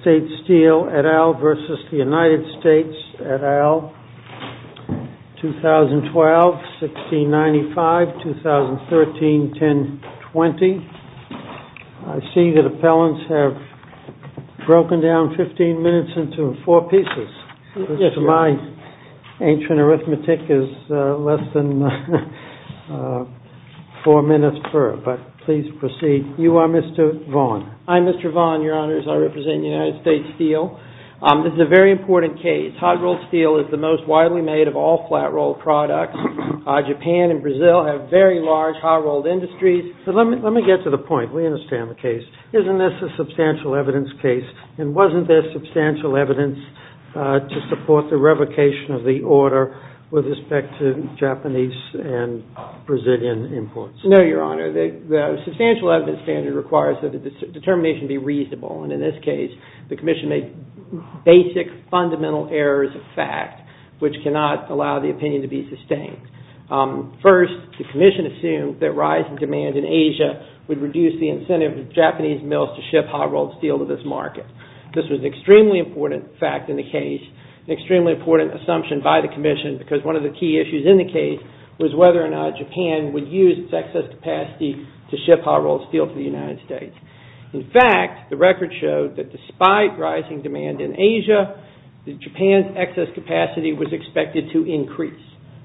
et al., 2012, 1695, 2013, 1020. I see that appellants have broken down 15 minutes into four pieces. My ancient arithmetic is less than four minutes per, but please proceed. You are Mr. Vaughn. I'm Mr. Vaughn, Your Honors. I represent United States Steel. This is a very important case. Hot-rolled steel is the most widely made of all flat-rolled products. Japan and Brazil have very large hot-rolled industries. But let me get to the point. We understand the case. Isn't this a substantial evidence case? And wasn't there substantial evidence to support the revocation of the order with respect to Japanese and Brazilian imports? No, Your Honor. The substantial evidence standard requires that the determination be reasonable. And in this case, the Commission made basic fundamental errors of fact, which cannot allow the opinion to be sustained. First, the Commission assumed that rise in demand in Asia would reduce the incentive of Japanese mills to ship hot-rolled steel to this market. This was an extremely important fact in the case, an extremely important assumption by the Commission, because one of the key issues in the case was whether or not Japan would use its excess capacity to ship hot-rolled steel to the United States. In fact, the record showed that despite rising demand in Asia, that Japan's excess capacity was expected to increase.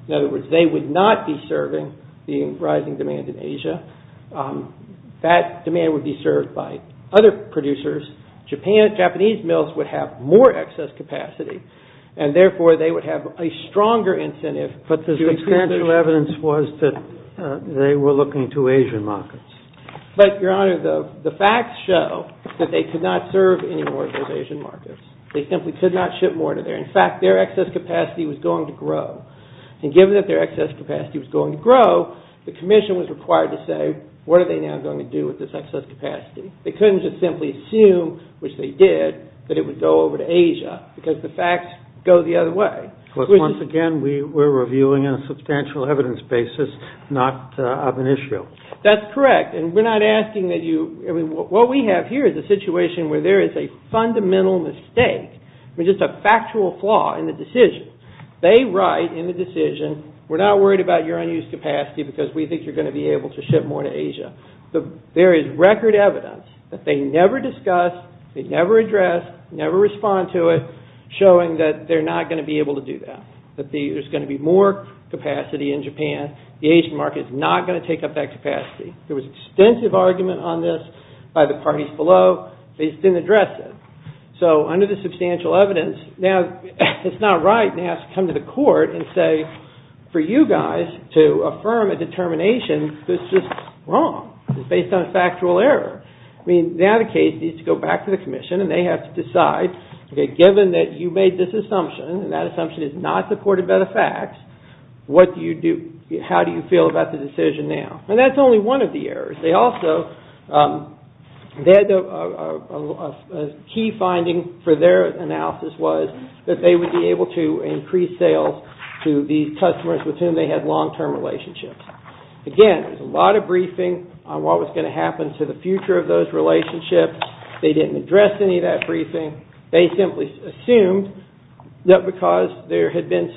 In other words, they would not be serving the rising demand in Asia. That demand would be served by other producers. Japanese mills would have more excess capacity. And therefore, they would have a stronger incentive to increase their... The substantial evidence was that they were looking to Asian markets. But, Your Honor, the facts show that they could not serve any more of those Asian markets. They simply could not ship more to there. In fact, their excess capacity was going to grow. And given that their excess capacity was going to grow, the Commission was required to say, what are they now going to do with this excess capacity? They couldn't just simply assume, which they did, that it would go over to Asia, because the facts go the other way. Once again, we are reviewing on a substantial evidence basis, not of an issue. That's correct. And we're not asking that you... What we have here is a situation where there is a fundamental mistake, which is a factual flaw in the decision. They write in the decision, we're not worried about your unused capacity because we think you're going to be able to ship more to Asia. There is record evidence that they never discussed, they never addressed, never respond to it, showing that they're not going to be able to do that, that there's going to be more capacity in Japan. The Asian market is not going to take up that capacity. There was extensive argument on this by the parties below. They just didn't address it. So under the substantial evidence, now it's not right to have to come to the court and say, for you guys to affirm a determination, this is wrong. It's based on a factual error. I mean, now the case needs to go back to the Commission and they have to decide, okay, given that you made this assumption and that assumption is not supported by the facts, what do you do? How do you feel about the decision now? And that's only one of the errors. They also... A key finding for their analysis was that they would be able to increase sales to the customers with whom they had long-term relationships. Again, there's a lot of briefing on what was going to happen to the future of those relationships. They didn't address any of that briefing. They simply assumed that because there had been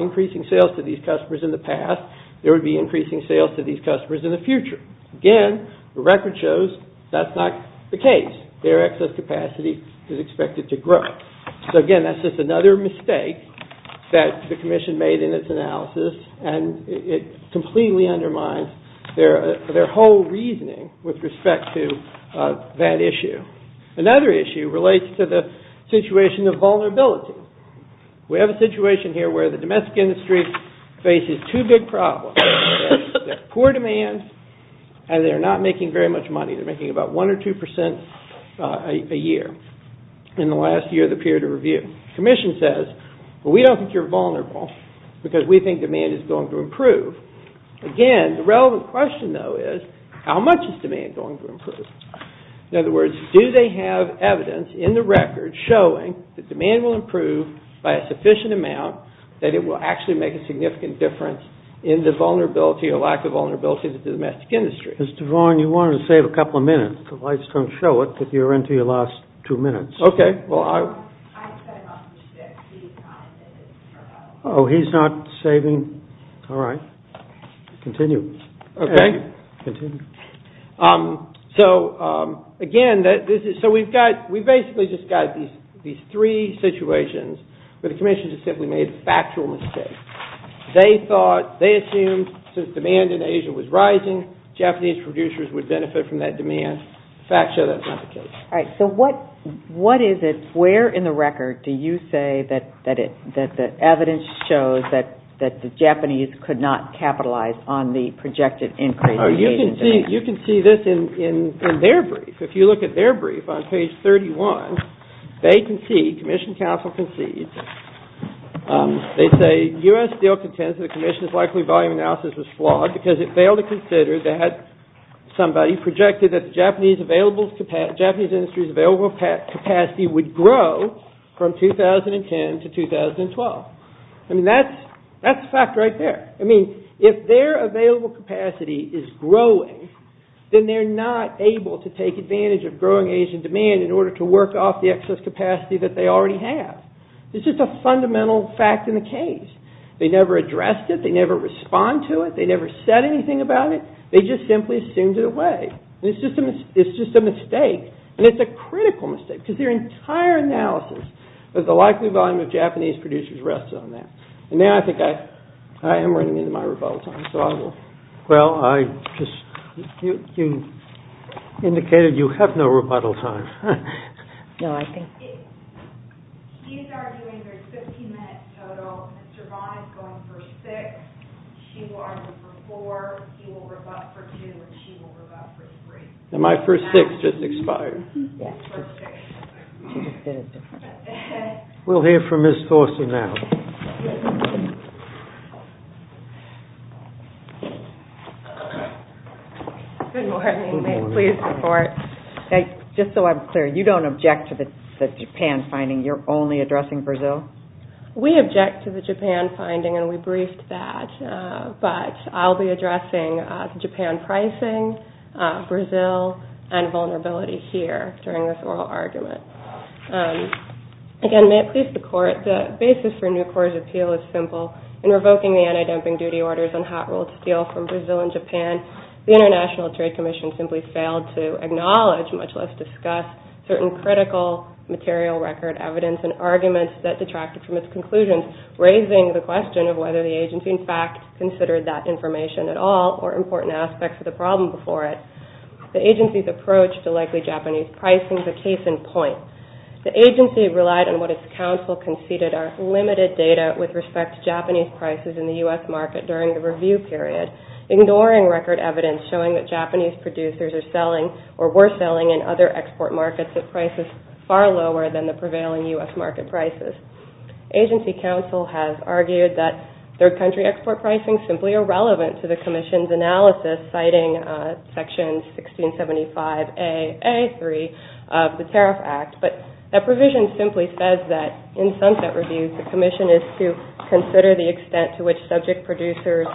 increasing sales to these customers in the past, there would be increasing sales to these customers in the future. Again, the record shows that's not the case. Their excess capacity is expected to grow. So again, that's just another mistake that the Commission made in its analysis and it completely undermines their whole reasoning with respect to that issue. Another issue relates to the situation of vulnerability. We have a situation here where the domestic industry faces two big problems. There's poor demand and they're not making very much money. They're making about 1 or 2 percent a year in the last year of the period of review. The Commission says, well, we don't think you're vulnerable because we think demand is going to improve. Again, the relevant question, though, is how much is demand going to improve? In other words, do they have evidence in the record showing that demand will improve by a sufficient amount that it will actually make a significant difference in the vulnerability or lack of vulnerability of the domestic industry? Mr. Vaughan, you wanted to save a couple of minutes. The lights don't show it, but you're into your last two minutes. Okay. Well, I... I'm setting up the stick. He's not saving. Oh, he's not saving? All right. Continue. Okay. Continue. So, again, this is... So we've got... We've basically just got these three situations where the Commission has simply made a factual mistake. They thought... They assumed since demand in Asia was rising, Japanese producers would benefit from that demand. The facts show that's not the case. All right. So what is it... Where in the record do you say that the evidence shows that the demand... You can see this in their brief. If you look at their brief on page 31, they concede, Commission counsel concedes, they say U.S. Steel contends that the Commission's likely volume analysis was flawed because it failed to consider that somebody projected that the Japanese available capacity... Japanese industry's available capacity would grow from 2010 to 2012. I mean, that's the fact right there. I mean, if their available capacity is growing, then they're not able to take advantage of growing Asian demand in order to work off the excess capacity that they already have. It's just a fundamental fact in the case. They never addressed it. They never respond to it. They never said anything about it. They just simply assumed it away. And it's just a mistake. And it's a critical mistake because their entire analysis of the I think I am running into my rebuttal time, so I will... Well, I just... You indicated you have no rebuttal time. No, I think... He's arguing there's 15 minutes total. Mr. Vaughn is going for six. She will argue for four. He will rebut for two. And she will rebut for three. And my first six just expired. Yeah. First six. We'll hear from Ms. Thorson now. Good morning. May it please the court. Just so I'm clear, you don't object to the Japan finding? You're only addressing Brazil? We object to the Japan finding, and we briefed that. But I'll be addressing Japan pricing, Brazil, and vulnerability here during this oral argument. Again, may it please the court, the basis for Nucor's appeal is simple. In revoking the anti-dumping duty orders on hot-rolled steel from Brazil and Japan, the International Trade Commission simply failed to acknowledge, much less discuss, certain critical material record evidence and arguments that detracted from its conclusions, raising the question of whether the agency in fact considered that information at all or important aspects of the problem before it. The agency's approach to likely Japanese pricing is a case in point. The agency relied on what its counsel conceded are limited data with respect to Japanese prices in the U.S. market during the review period, ignoring record evidence showing that Japanese producers are selling or were selling in other export markets at prices far lower than the prevailing U.S. market prices. Agency counsel has argued that third-country export pricing is simply irrelevant to the 1675AA3 of the Tariff Act, but that provision simply says that in sunset reviews, the commission is to consider the extent to which subject producers'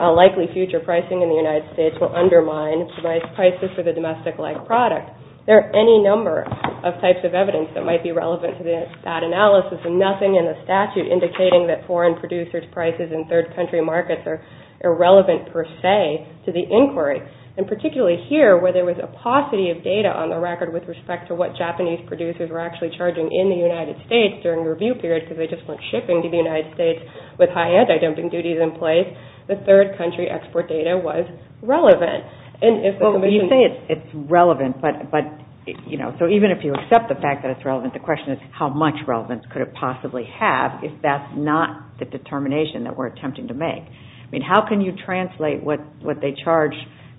likely future pricing in the United States will undermine price prices for the domestic-like product. There are any number of types of evidence that might be relevant to that analysis, and nothing in the statute indicating that foreign producers' prices in third-country markets are irrelevant per se to the inquiry. Particularly here, where there was a paucity of data on the record with respect to what Japanese producers were actually charging in the United States during the review period because they just went shipping to the United States with high anti-dumping duties in place, the third-country export data was relevant. You say it's relevant, but even if you accept the fact that it's relevant, the question is how much relevance could it possibly have if that's not the determination that we're attempting to make? I mean, how can you translate what they charge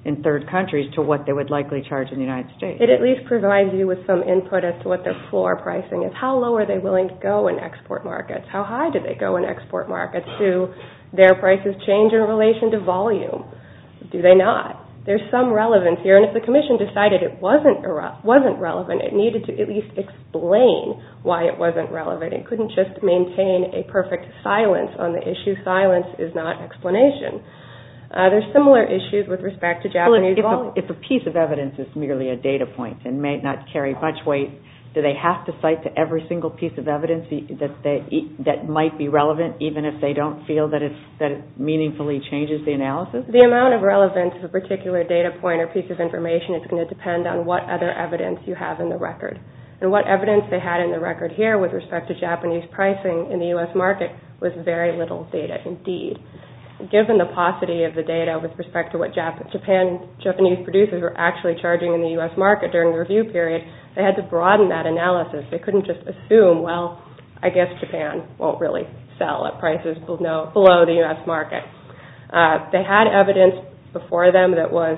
in third countries to what they would likely charge in the United States? It at least provides you with some input as to what their floor pricing is. How low are they willing to go in export markets? How high do they go in export markets? Do their prices change in relation to volume? Do they not? There's some relevance here, and if the commission decided it wasn't relevant, it needed to at least explain why it wasn't relevant. It couldn't just maintain a perfect silence on the issue. Silence is not explanation. There's similar issues with respect to Japanese volumes. If a piece of evidence is merely a data point and may not carry much weight, do they have to cite to every single piece of evidence that might be relevant even if they don't feel that it meaningfully changes the analysis? The amount of relevance of a particular data point or piece of information is going to depend on what other evidence you have in the record and what evidence they had in the record here with respect to Japanese pricing in the U.S. market was very little data indeed. Given the paucity of the data with respect to what Japanese producers were actually charging in the U.S. market during the review period, they had to broaden that analysis. They couldn't just assume, well, I guess Japan won't really sell at prices below the U.S. market. They had evidence before them that was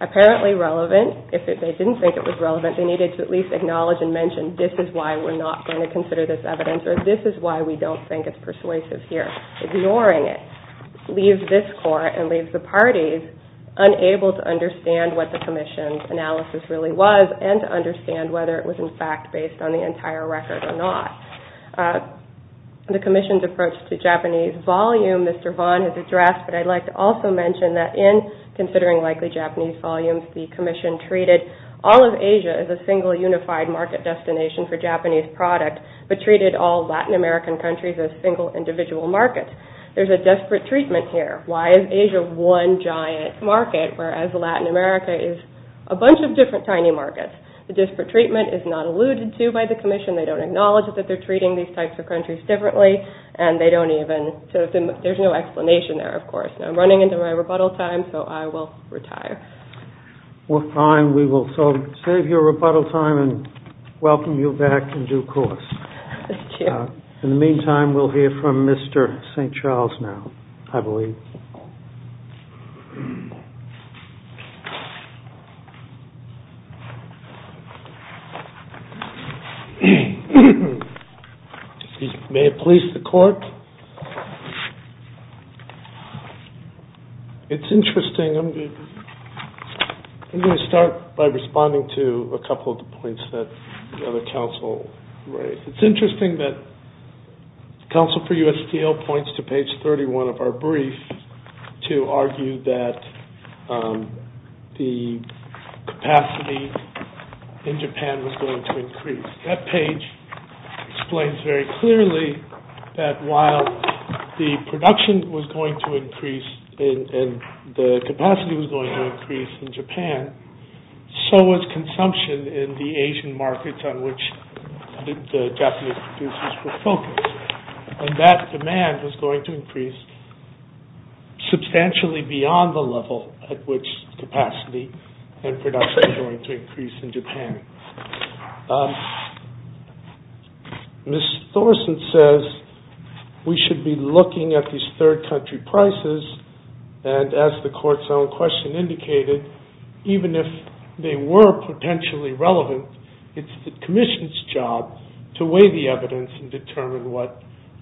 apparently relevant. If they didn't think it was relevant, they needed to at least acknowledge and mention this is why we're not going to consider this evidence or this is why we don't think it's persuasive here. Ignoring it leaves this Court and leaves the parties unable to understand what the Commission's analysis really was and to understand whether it was in fact based on the entire record or not. The Commission's approach to Japanese volume, Mr. Vaughn has addressed, but I'd like to also mention that in considering likely Japanese volumes, the Commission treated all of Asia as a single unified market destination for Japanese product, but treated all Latin American countries as single individual markets. There's a desperate treatment here. Why is Asia one giant market, whereas Latin America is a bunch of different tiny markets? The desperate treatment is not alluded to by the Commission. They don't acknowledge that they're treating these types of countries differently and they don't even, so there's no explanation there, of course. I'm running into my rebuttal time, so I will retire. Fine, we will save your rebuttal time and welcome you back in due course. Thank you. In the meantime, we'll hear from Mr. St. Charles now, I believe. May it please the Court. It's interesting. I'm going to start by responding to a couple of the points that the other counsel raised. It's interesting that counsel for USTO points to page 31 of our brief to argue that the capacity in Japan was going to increase. That page explains very clearly that while the production was going to increase and the capacity was going to increase in Japan, so was consumption in the Asian markets on which the Japanese producers were focused. And that demand was going to increase substantially beyond the level at which capacity and production were going to increase in Japan. Ms. Thorson says we should be looking at these third country prices and as the Court's own question indicated, even if they were potentially relevant, it's the Commission's job to weigh the evidence and determine what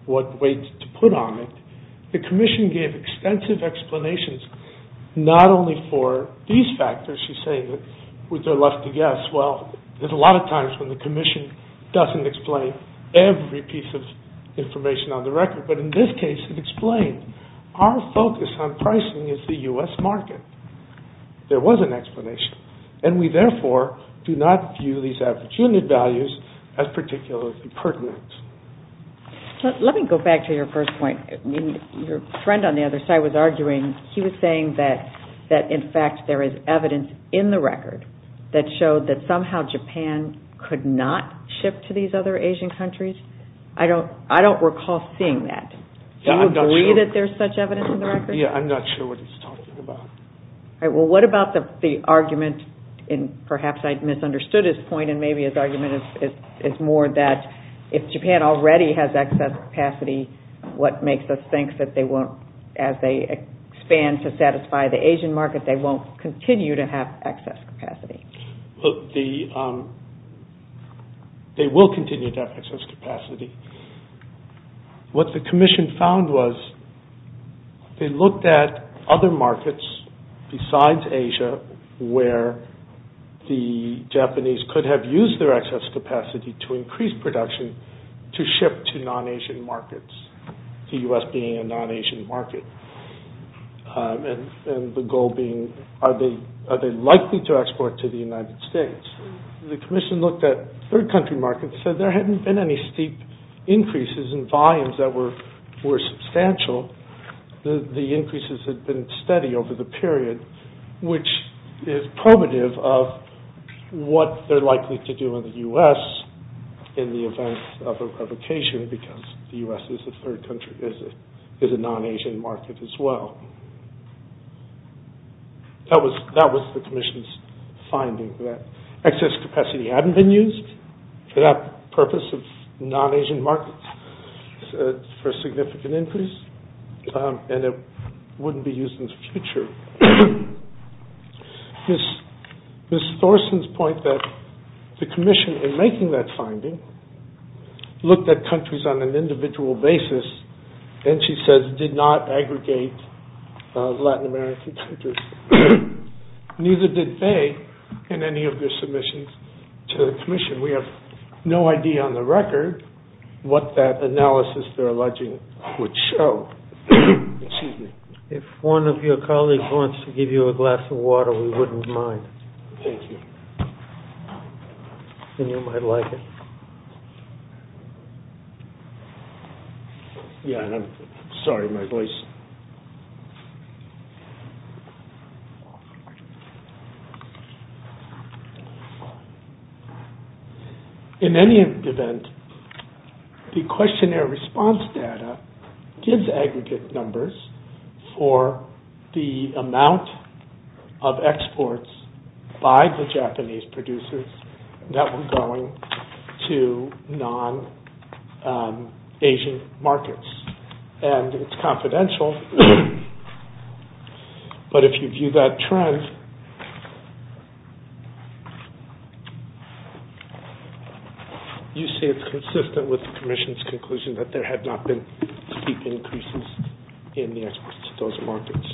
weight to put on it. The Commission gave extensive explanations not only for these factors, she's saying, which are left to guess. There's a lot of times when the Commission doesn't explain every piece of information on the record, but in this case it explained our focus on pricing is the US market. There was an explanation. And we therefore do not view these average unit values as particularly pertinent. Let me go back to your first point. Your friend on the other side was arguing, he was saying that in fact there is evidence in the record that showed that somehow Japan could not ship to these other Asian countries. I don't recall seeing that. Do you agree that there's such evidence in the record? Yeah, I'm not sure what he's talking about. All right, well what about the argument, and perhaps I misunderstood his point and maybe his argument is more that if Japan already has excess capacity, what makes us think that they won't, as they expand to satisfy the Asian market, they won't continue to have excess capacity. They will continue to have excess capacity. What the Commission found was they looked at other markets besides Asia where the Japanese could have used their excess capacity to increase production to ship to non-Asian markets, the U.S. being a non-Asian market. And the goal being, are they likely to export to the United States? The Commission looked at third country markets and said there hadn't been any steep increases in volumes that were substantial. The increases had been steady over the period, which is primitive of what they're likely to do in the U.S. in the event of a provocation because the U.S. is a third country, is a non-Asian market as well. That was the Commission's finding, that excess capacity hadn't been used for that purpose of non-Asian markets for significant increase and it wouldn't be used in the future. Ms. Thorsen's point that the Commission in making that finding looked at countries on an individual basis and she says did not aggregate Latin American countries. Neither did they in any of their submissions to the Commission. We have no idea on the record what that analysis they're alleging would show. Excuse me. If one of your colleagues wants to give you a glass of water we wouldn't mind. Thank you. Then you might like it. Yeah, I'm sorry, my voice... In any event, the questionnaire response data gives aggregate numbers for the amount of exports by the Japanese producers that were going to non-Asian markets and it's confidential but if you view that trend you see it's consistent with the Commission's conclusion that there had not been steep increases in the exports to those markets.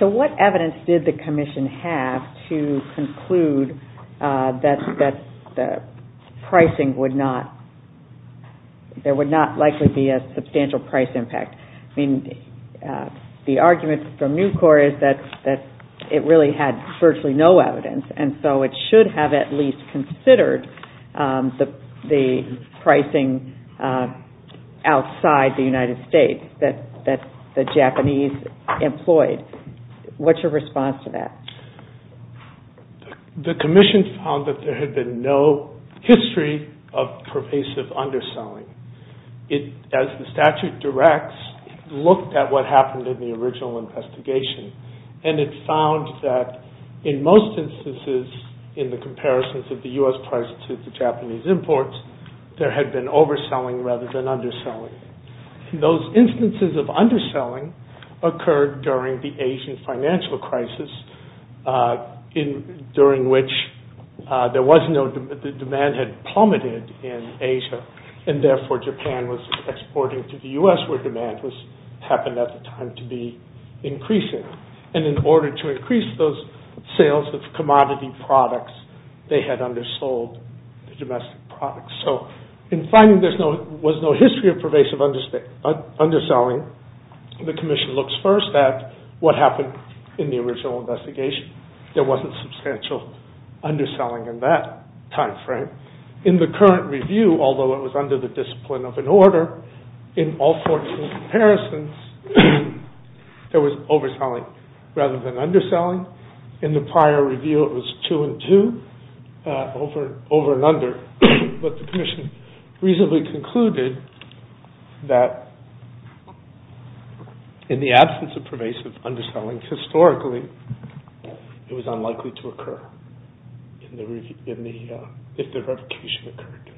So what evidence did the Commission have to conclude that the pricing would not there would not likely be a substantial price impact? I mean, the argument from NUCOR is that it really had virtually no evidence and so it should have at least considered the pricing outside the United States that the Japanese employed. What's your response to that? The Commission found that there had been no history of pervasive underselling. As the statute directs it looked at what happened in the original investigation and it found that in most instances in the comparisons of the U.S. price to the Japanese imports there had been overselling rather than underselling. Those instances of underselling occurred during the Asian financial crisis during which there was no the demand had plummeted in Asia and therefore Japan was exporting to the U.S. where demand happened at the time to be increasing and in order to increase those sales of commodity products they had undersold the domestic products. So in finding there was no history of pervasive underselling the Commission looks first at what happened in the original investigation. There wasn't substantial underselling in that time frame. In the current review, although it was under the discipline of an order in all 14 comparisons there was overselling rather than underselling. In the prior review it was 2 and 2 over and under but the Commission reasonably concluded that in the absence of pervasive underselling historically it was unlikely to occur if the revocation occurred.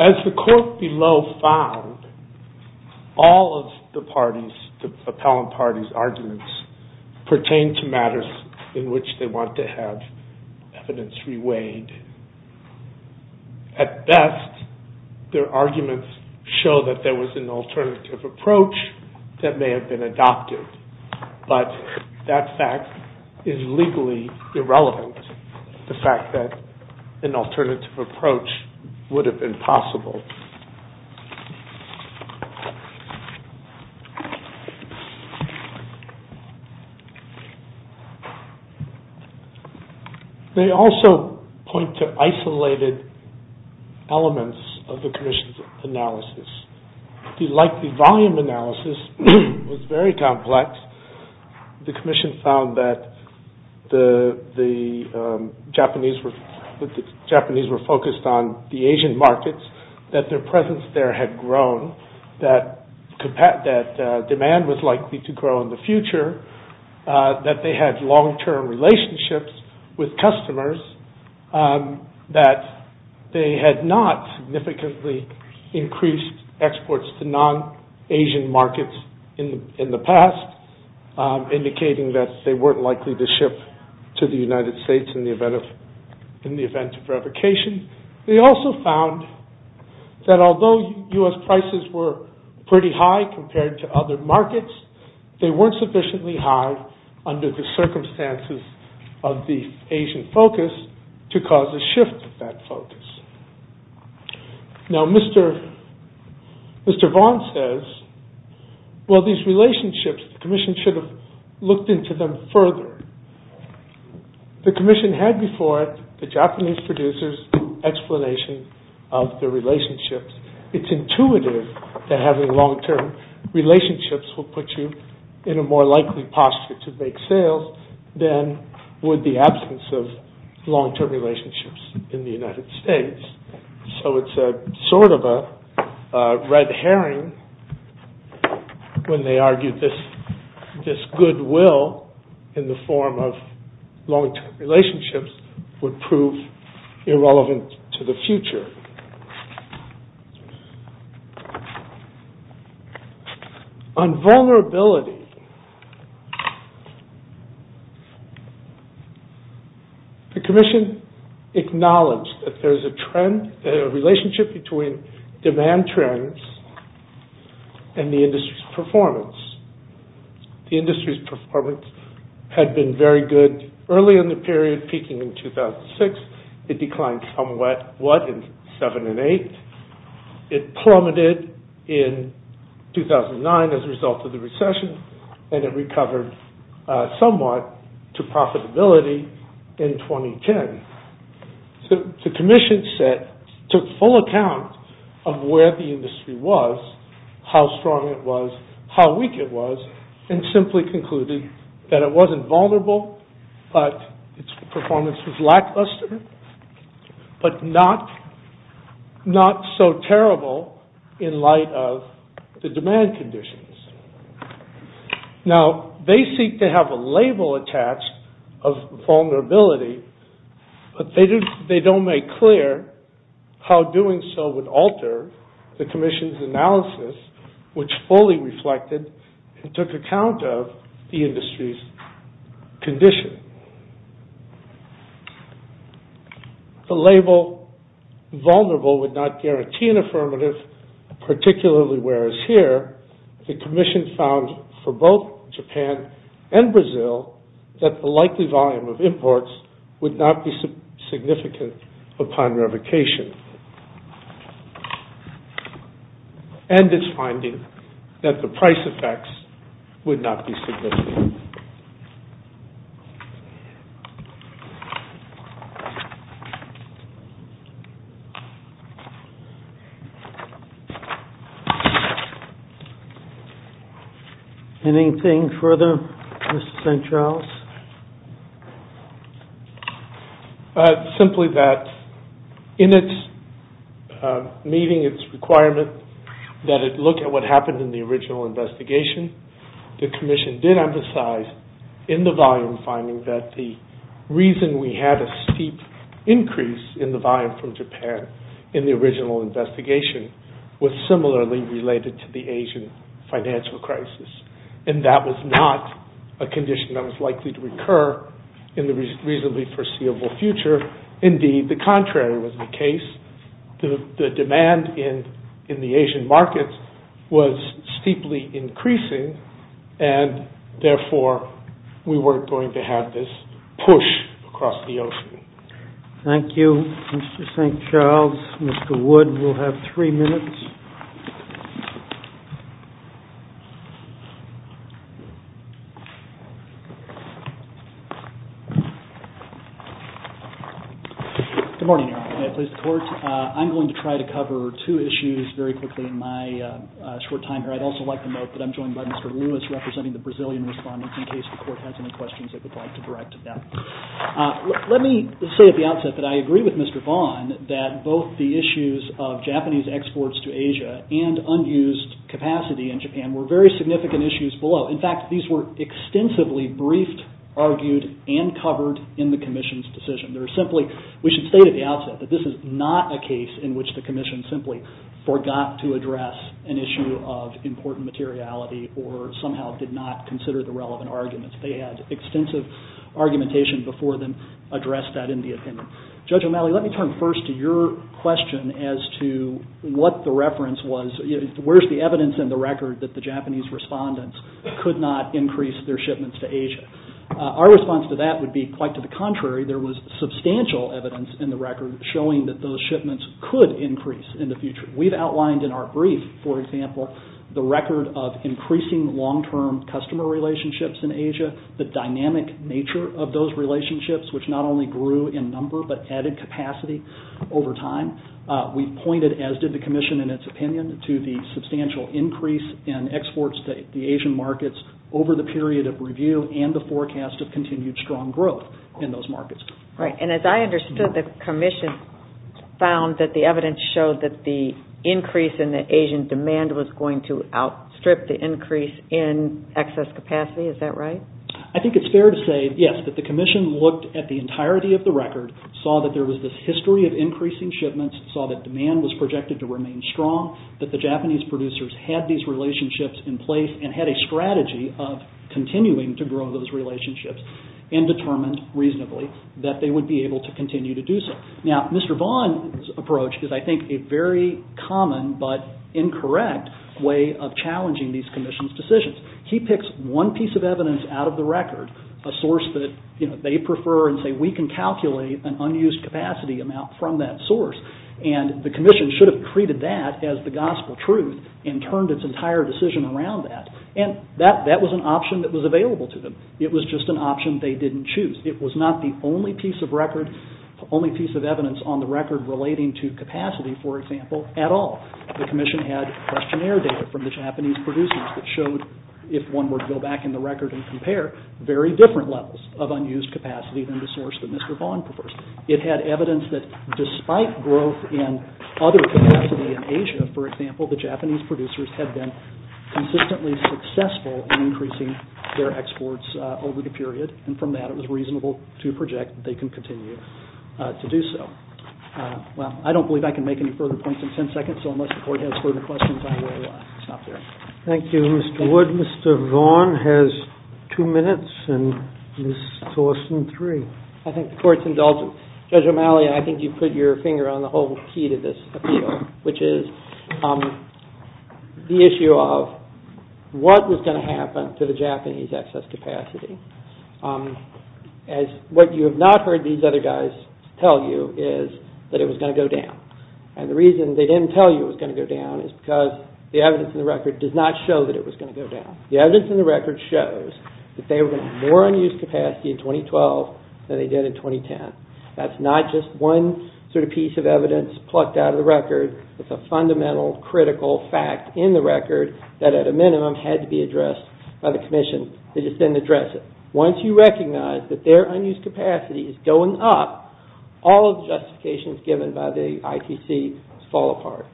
As the court below found all of the parties the appellant parties arguments pertain to matters in which they want to have evidence reweighed. At best their arguments show that there was an alternative approach that may have been adopted but that fact is legally irrelevant the fact that an alternative approach would have been possible. They also point to isolated elements of the Commission's analysis. The likely volume analysis was very complex the Commission found that the Japanese were focused on the Asian markets that their presence there had grown that demand was likely to grow in the future that they had long-term relationships with customers that they had not significantly increased exports to non-Asian markets in the past indicating that they weren't likely to ship to the United States in the event of revocation. They also found that although US prices were pretty high compared to other markets they weren't sufficiently high under the circumstances of the Asian focus to cause a shift of that focus. Now Mr. Vaughn says well these relationships the Commission should have looked into them further the Commission had before it the Japanese producers explanation of the relationships it's intuitive that having long-term relationships will put you in a more likely posture to make sales than would the absence of long-term relationships in the United States so it's sort of a red herring when they argued this goodwill in the form of long-term relationships would prove irrelevant to the future. On vulnerability the Commission acknowledged that there's a trend a relationship between demand trends and the industry's performance the industry's performance had been very good early in the period peaking in 2006 it declined somewhat in 7 and 8 it plummeted in 2009 as a result of the recession and it recovered somewhat to profitability in 2010 the Commission took full account of where the industry was how strong it was how weak it was and simply concluded that it wasn't vulnerable but its performance was lackluster but not so terrible in light of the demand conditions now they seek to have a label attached of vulnerability but they don't make clear how doing so would alter the Commission's analysis which fully reflected and took account of the industry's condition the label vulnerable would not guarantee an affirmative particularly where as here the Commission found for both Japan and Brazil that the likely volume of imports would not be significant upon revocation and its finding that the price effects would not be significant anything further Mr. St. Charles simply that in its meeting its requirement that it look at what happened in the original investigation the Commission did emphasize in the volume finding that the reason we had a steep increase in the volume from Japan in the original investigation was similarly related to the Asian financial crisis and that was not a condition that was likely to recur in the reasonably foreseeable future indeed the contrary was the case the demand in the Asian markets was steeply increasing and therefore we weren't going to have this push across the ocean thank you Mr. St. Charles Mr. Wood will have 3 minutes good morning I'm going to try to cover 2 issues very quickly I'd also like to note that I'm joined by Mr. Lewis representing the Brazilian respondents let me say at the outset that I agree with Mr. Vaughn that both the issues of Japanese exports to Asia and unused capacity were very significant issues below in fact these were extensively briefed and covered in the Commission's decision we should state at the outset that this is not a case in which the Commission forgot to address an issue of important materiality or somehow did not consider the relevant arguments they had extensive argumentation before then addressed that in the opinion Judge O'Malley let me turn first to your question as to where's the evidence in the record that the Japanese respondents could not increase their shipments to Asia our response to that would be quite to the contrary there was substantial evidence in the record showing that those shipments could increase in the future we've outlined in our brief the record of increasing long-term customer relationships in Asia the dynamic nature of those relationships which not only grew in number but added capacity over time we've pointed as did the Commission to the substantial increase in exports to the Asian markets over the period of review and the forecast of continued strong growth in those markets and as I understood the Commission found that the evidence showed that the increase in Asian demand was going to outstrip the increase in excess capacity I think it's fair to say that the Commission looked at the entirety of the record saw that there was this history of increasing shipments saw that demand was projected to remain strong that the Japanese producers had these relationships in place and had a strategy of continuing to grow those relationships and determined reasonably that they would be able to continue to do so Mr. Vaughn's approach is a very common but incorrect way of challenging these Commission's decisions he picks one piece of evidence out of the record a source that they prefer and say we can calculate an unused capacity amount from that source and the Commission should have treated that as the gospel truth and turned its entire decision around that and that was an option that was available to them it was just an option they didn't choose it was not the only piece of evidence on the record relating to capacity for example at all the Commission had questionnaire data from the Japanese producers that showed if one were to go back in the record and compare very different levels of unused capacity than the source that Mr. Vaughn prefers it had evidence that despite growth in other capacity in Asia for example the Japanese producers had been consistently successful in increasing their exports over the period and from that it was reasonable to project that they can continue to do so I don't believe I can make any further points in 10 seconds so unless the Court has further questions I will stop there Thank you Mr. Wood Mr. Vaughn has two minutes and Ms. Thorsten three I think the Court's indulgent Judge O'Malley I think you put your finger on the whole key to this appeal which is the issue of what was going to happen to the Japanese access capacity as what you have not heard these other guys tell you is that it was going to go down and the reason they didn't tell you it was going to go down is because the evidence in the record does not show that it was going to go down the evidence in the record shows that they were going to have more unused capacity in 2012 than they did in 2010 that's not just one sort of piece of evidence plucked out of the record it's a fundamental critical fact in the record that at a minimum had to be addressed by the Commission once you recognize that their unused capacity is going up all of the justifications given by the ITC fall apart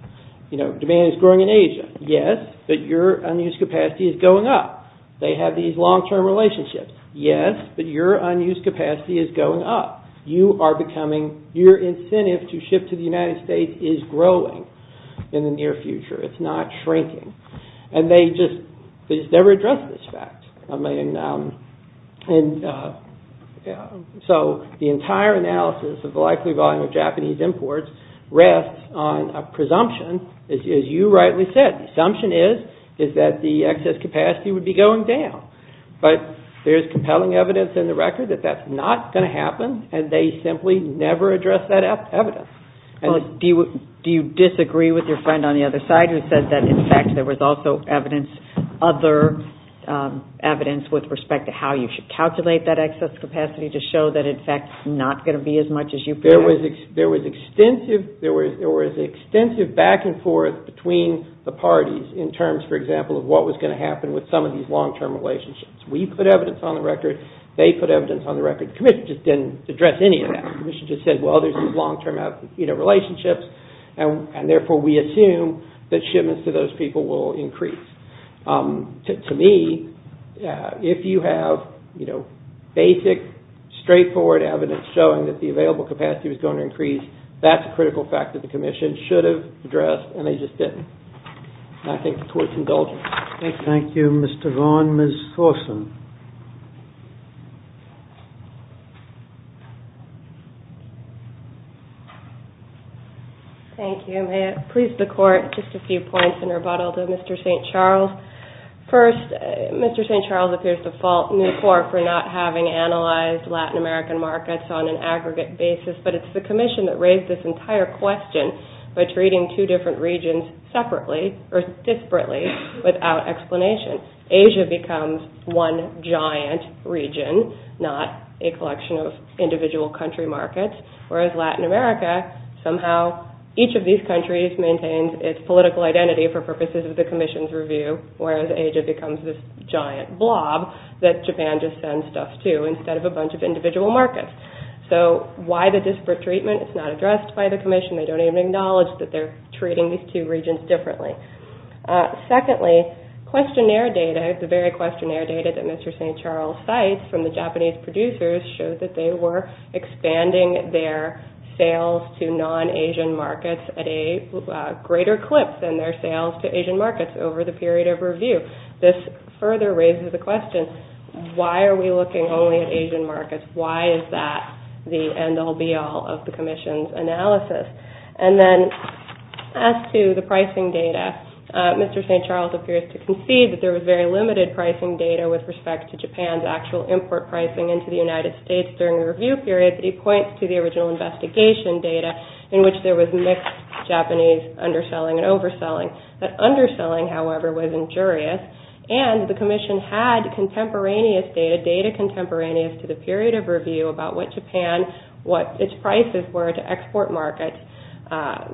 demand is growing in Asia yes, but your unused capacity is going up they have these long term relationships yes, but your unused capacity is going up your incentive to ship to the United States is growing in the near future, it's not shrinking and they just never address this fact and so the entire analysis of the likely volume of Japanese imports rests on a presumption as you rightly said the assumption is that the excess capacity would be going down but there's compelling evidence in the record that that's not going to happen and they simply never address that evidence do you disagree with your friend on the other side who said that in fact there was also evidence other evidence with respect to how you should calculate that excess capacity to show that in fact it's not going to be as much as you predicted there was extensive back and forth between the parties in terms for example of what was going to happen with some of these long term relationships we put evidence on the record, they put evidence on the record the commission just didn't address any of that the commission just said well there's these long term relationships and therefore we assume that shipments to those people will increase to me if you have basic straight forward evidence showing that the available capacity was going to increase that's a critical fact that the commission should have addressed and they just didn't I think the court is indulgent thank you Mr. Vaughan, Ms. Thorson thank you, may it please the court just a few points in rebuttal to Mr. St. Charles first, Mr. St. Charles appears to fault Newport for not having analyzed Latin American markets on an aggregate basis, but it's the commission that raised this entire question by treating two different regions separately, or disparately without explanation Asia becomes one giant region not a collection of individual country markets whereas Latin America somehow each of these countries maintains its political identity for purposes of the commission's review whereas Asia becomes this giant blob that Japan just sends stuff to instead of a bunch of individual markets so why the disparate treatment is not addressed by the commission they don't even acknowledge that they're treating these two regions differently secondly, questionnaire data the very questionnaire data that Mr. St. Charles cites from the Japanese producers showed that they were expanding their sales to non-Asian markets at a greater clip than their sales to Asian markets over the period of review this further raises the question why are we looking only at Asian markets why is that the end all be all of the commission's analysis and then as to the pricing data Mr. St. Charles appears to concede that there was very limited pricing data with respect to Japan's actual import pricing into the United States during the review period, but he points to the original investigation data in which there was mixed Japanese underselling and overselling that underselling however was injurious and the commission had contemporaneous data data contemporaneous to the period of review about what Japan, what its prices were to export markets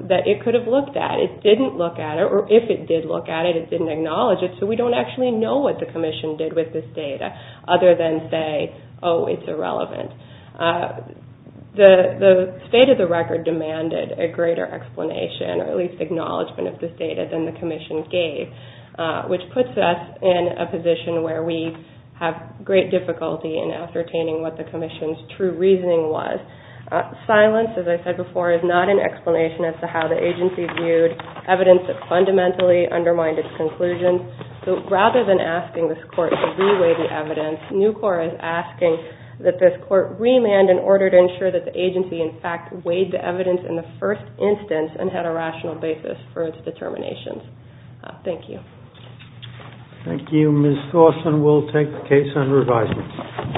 that it could have looked at it didn't look at it, or if it did look at it it didn't acknowledge it, so we don't actually know what the commission did with this data other than say, oh it's irrelevant the state of the record demanded a greater explanation, or at least acknowledgement of this data than the commission gave which puts us in a position where we have great difficulty in ascertaining what the commission's true reasoning was. Silence, as I said before is not an explanation as to how the agency viewed evidence that fundamentally undermined its conclusion so rather than asking this court to re-weigh the evidence Nucor is asking that this court remand in order to ensure that the agency in fact had a rational basis for its determinations Thank you Thank you, Ms. Thorson, we'll take the case under advisement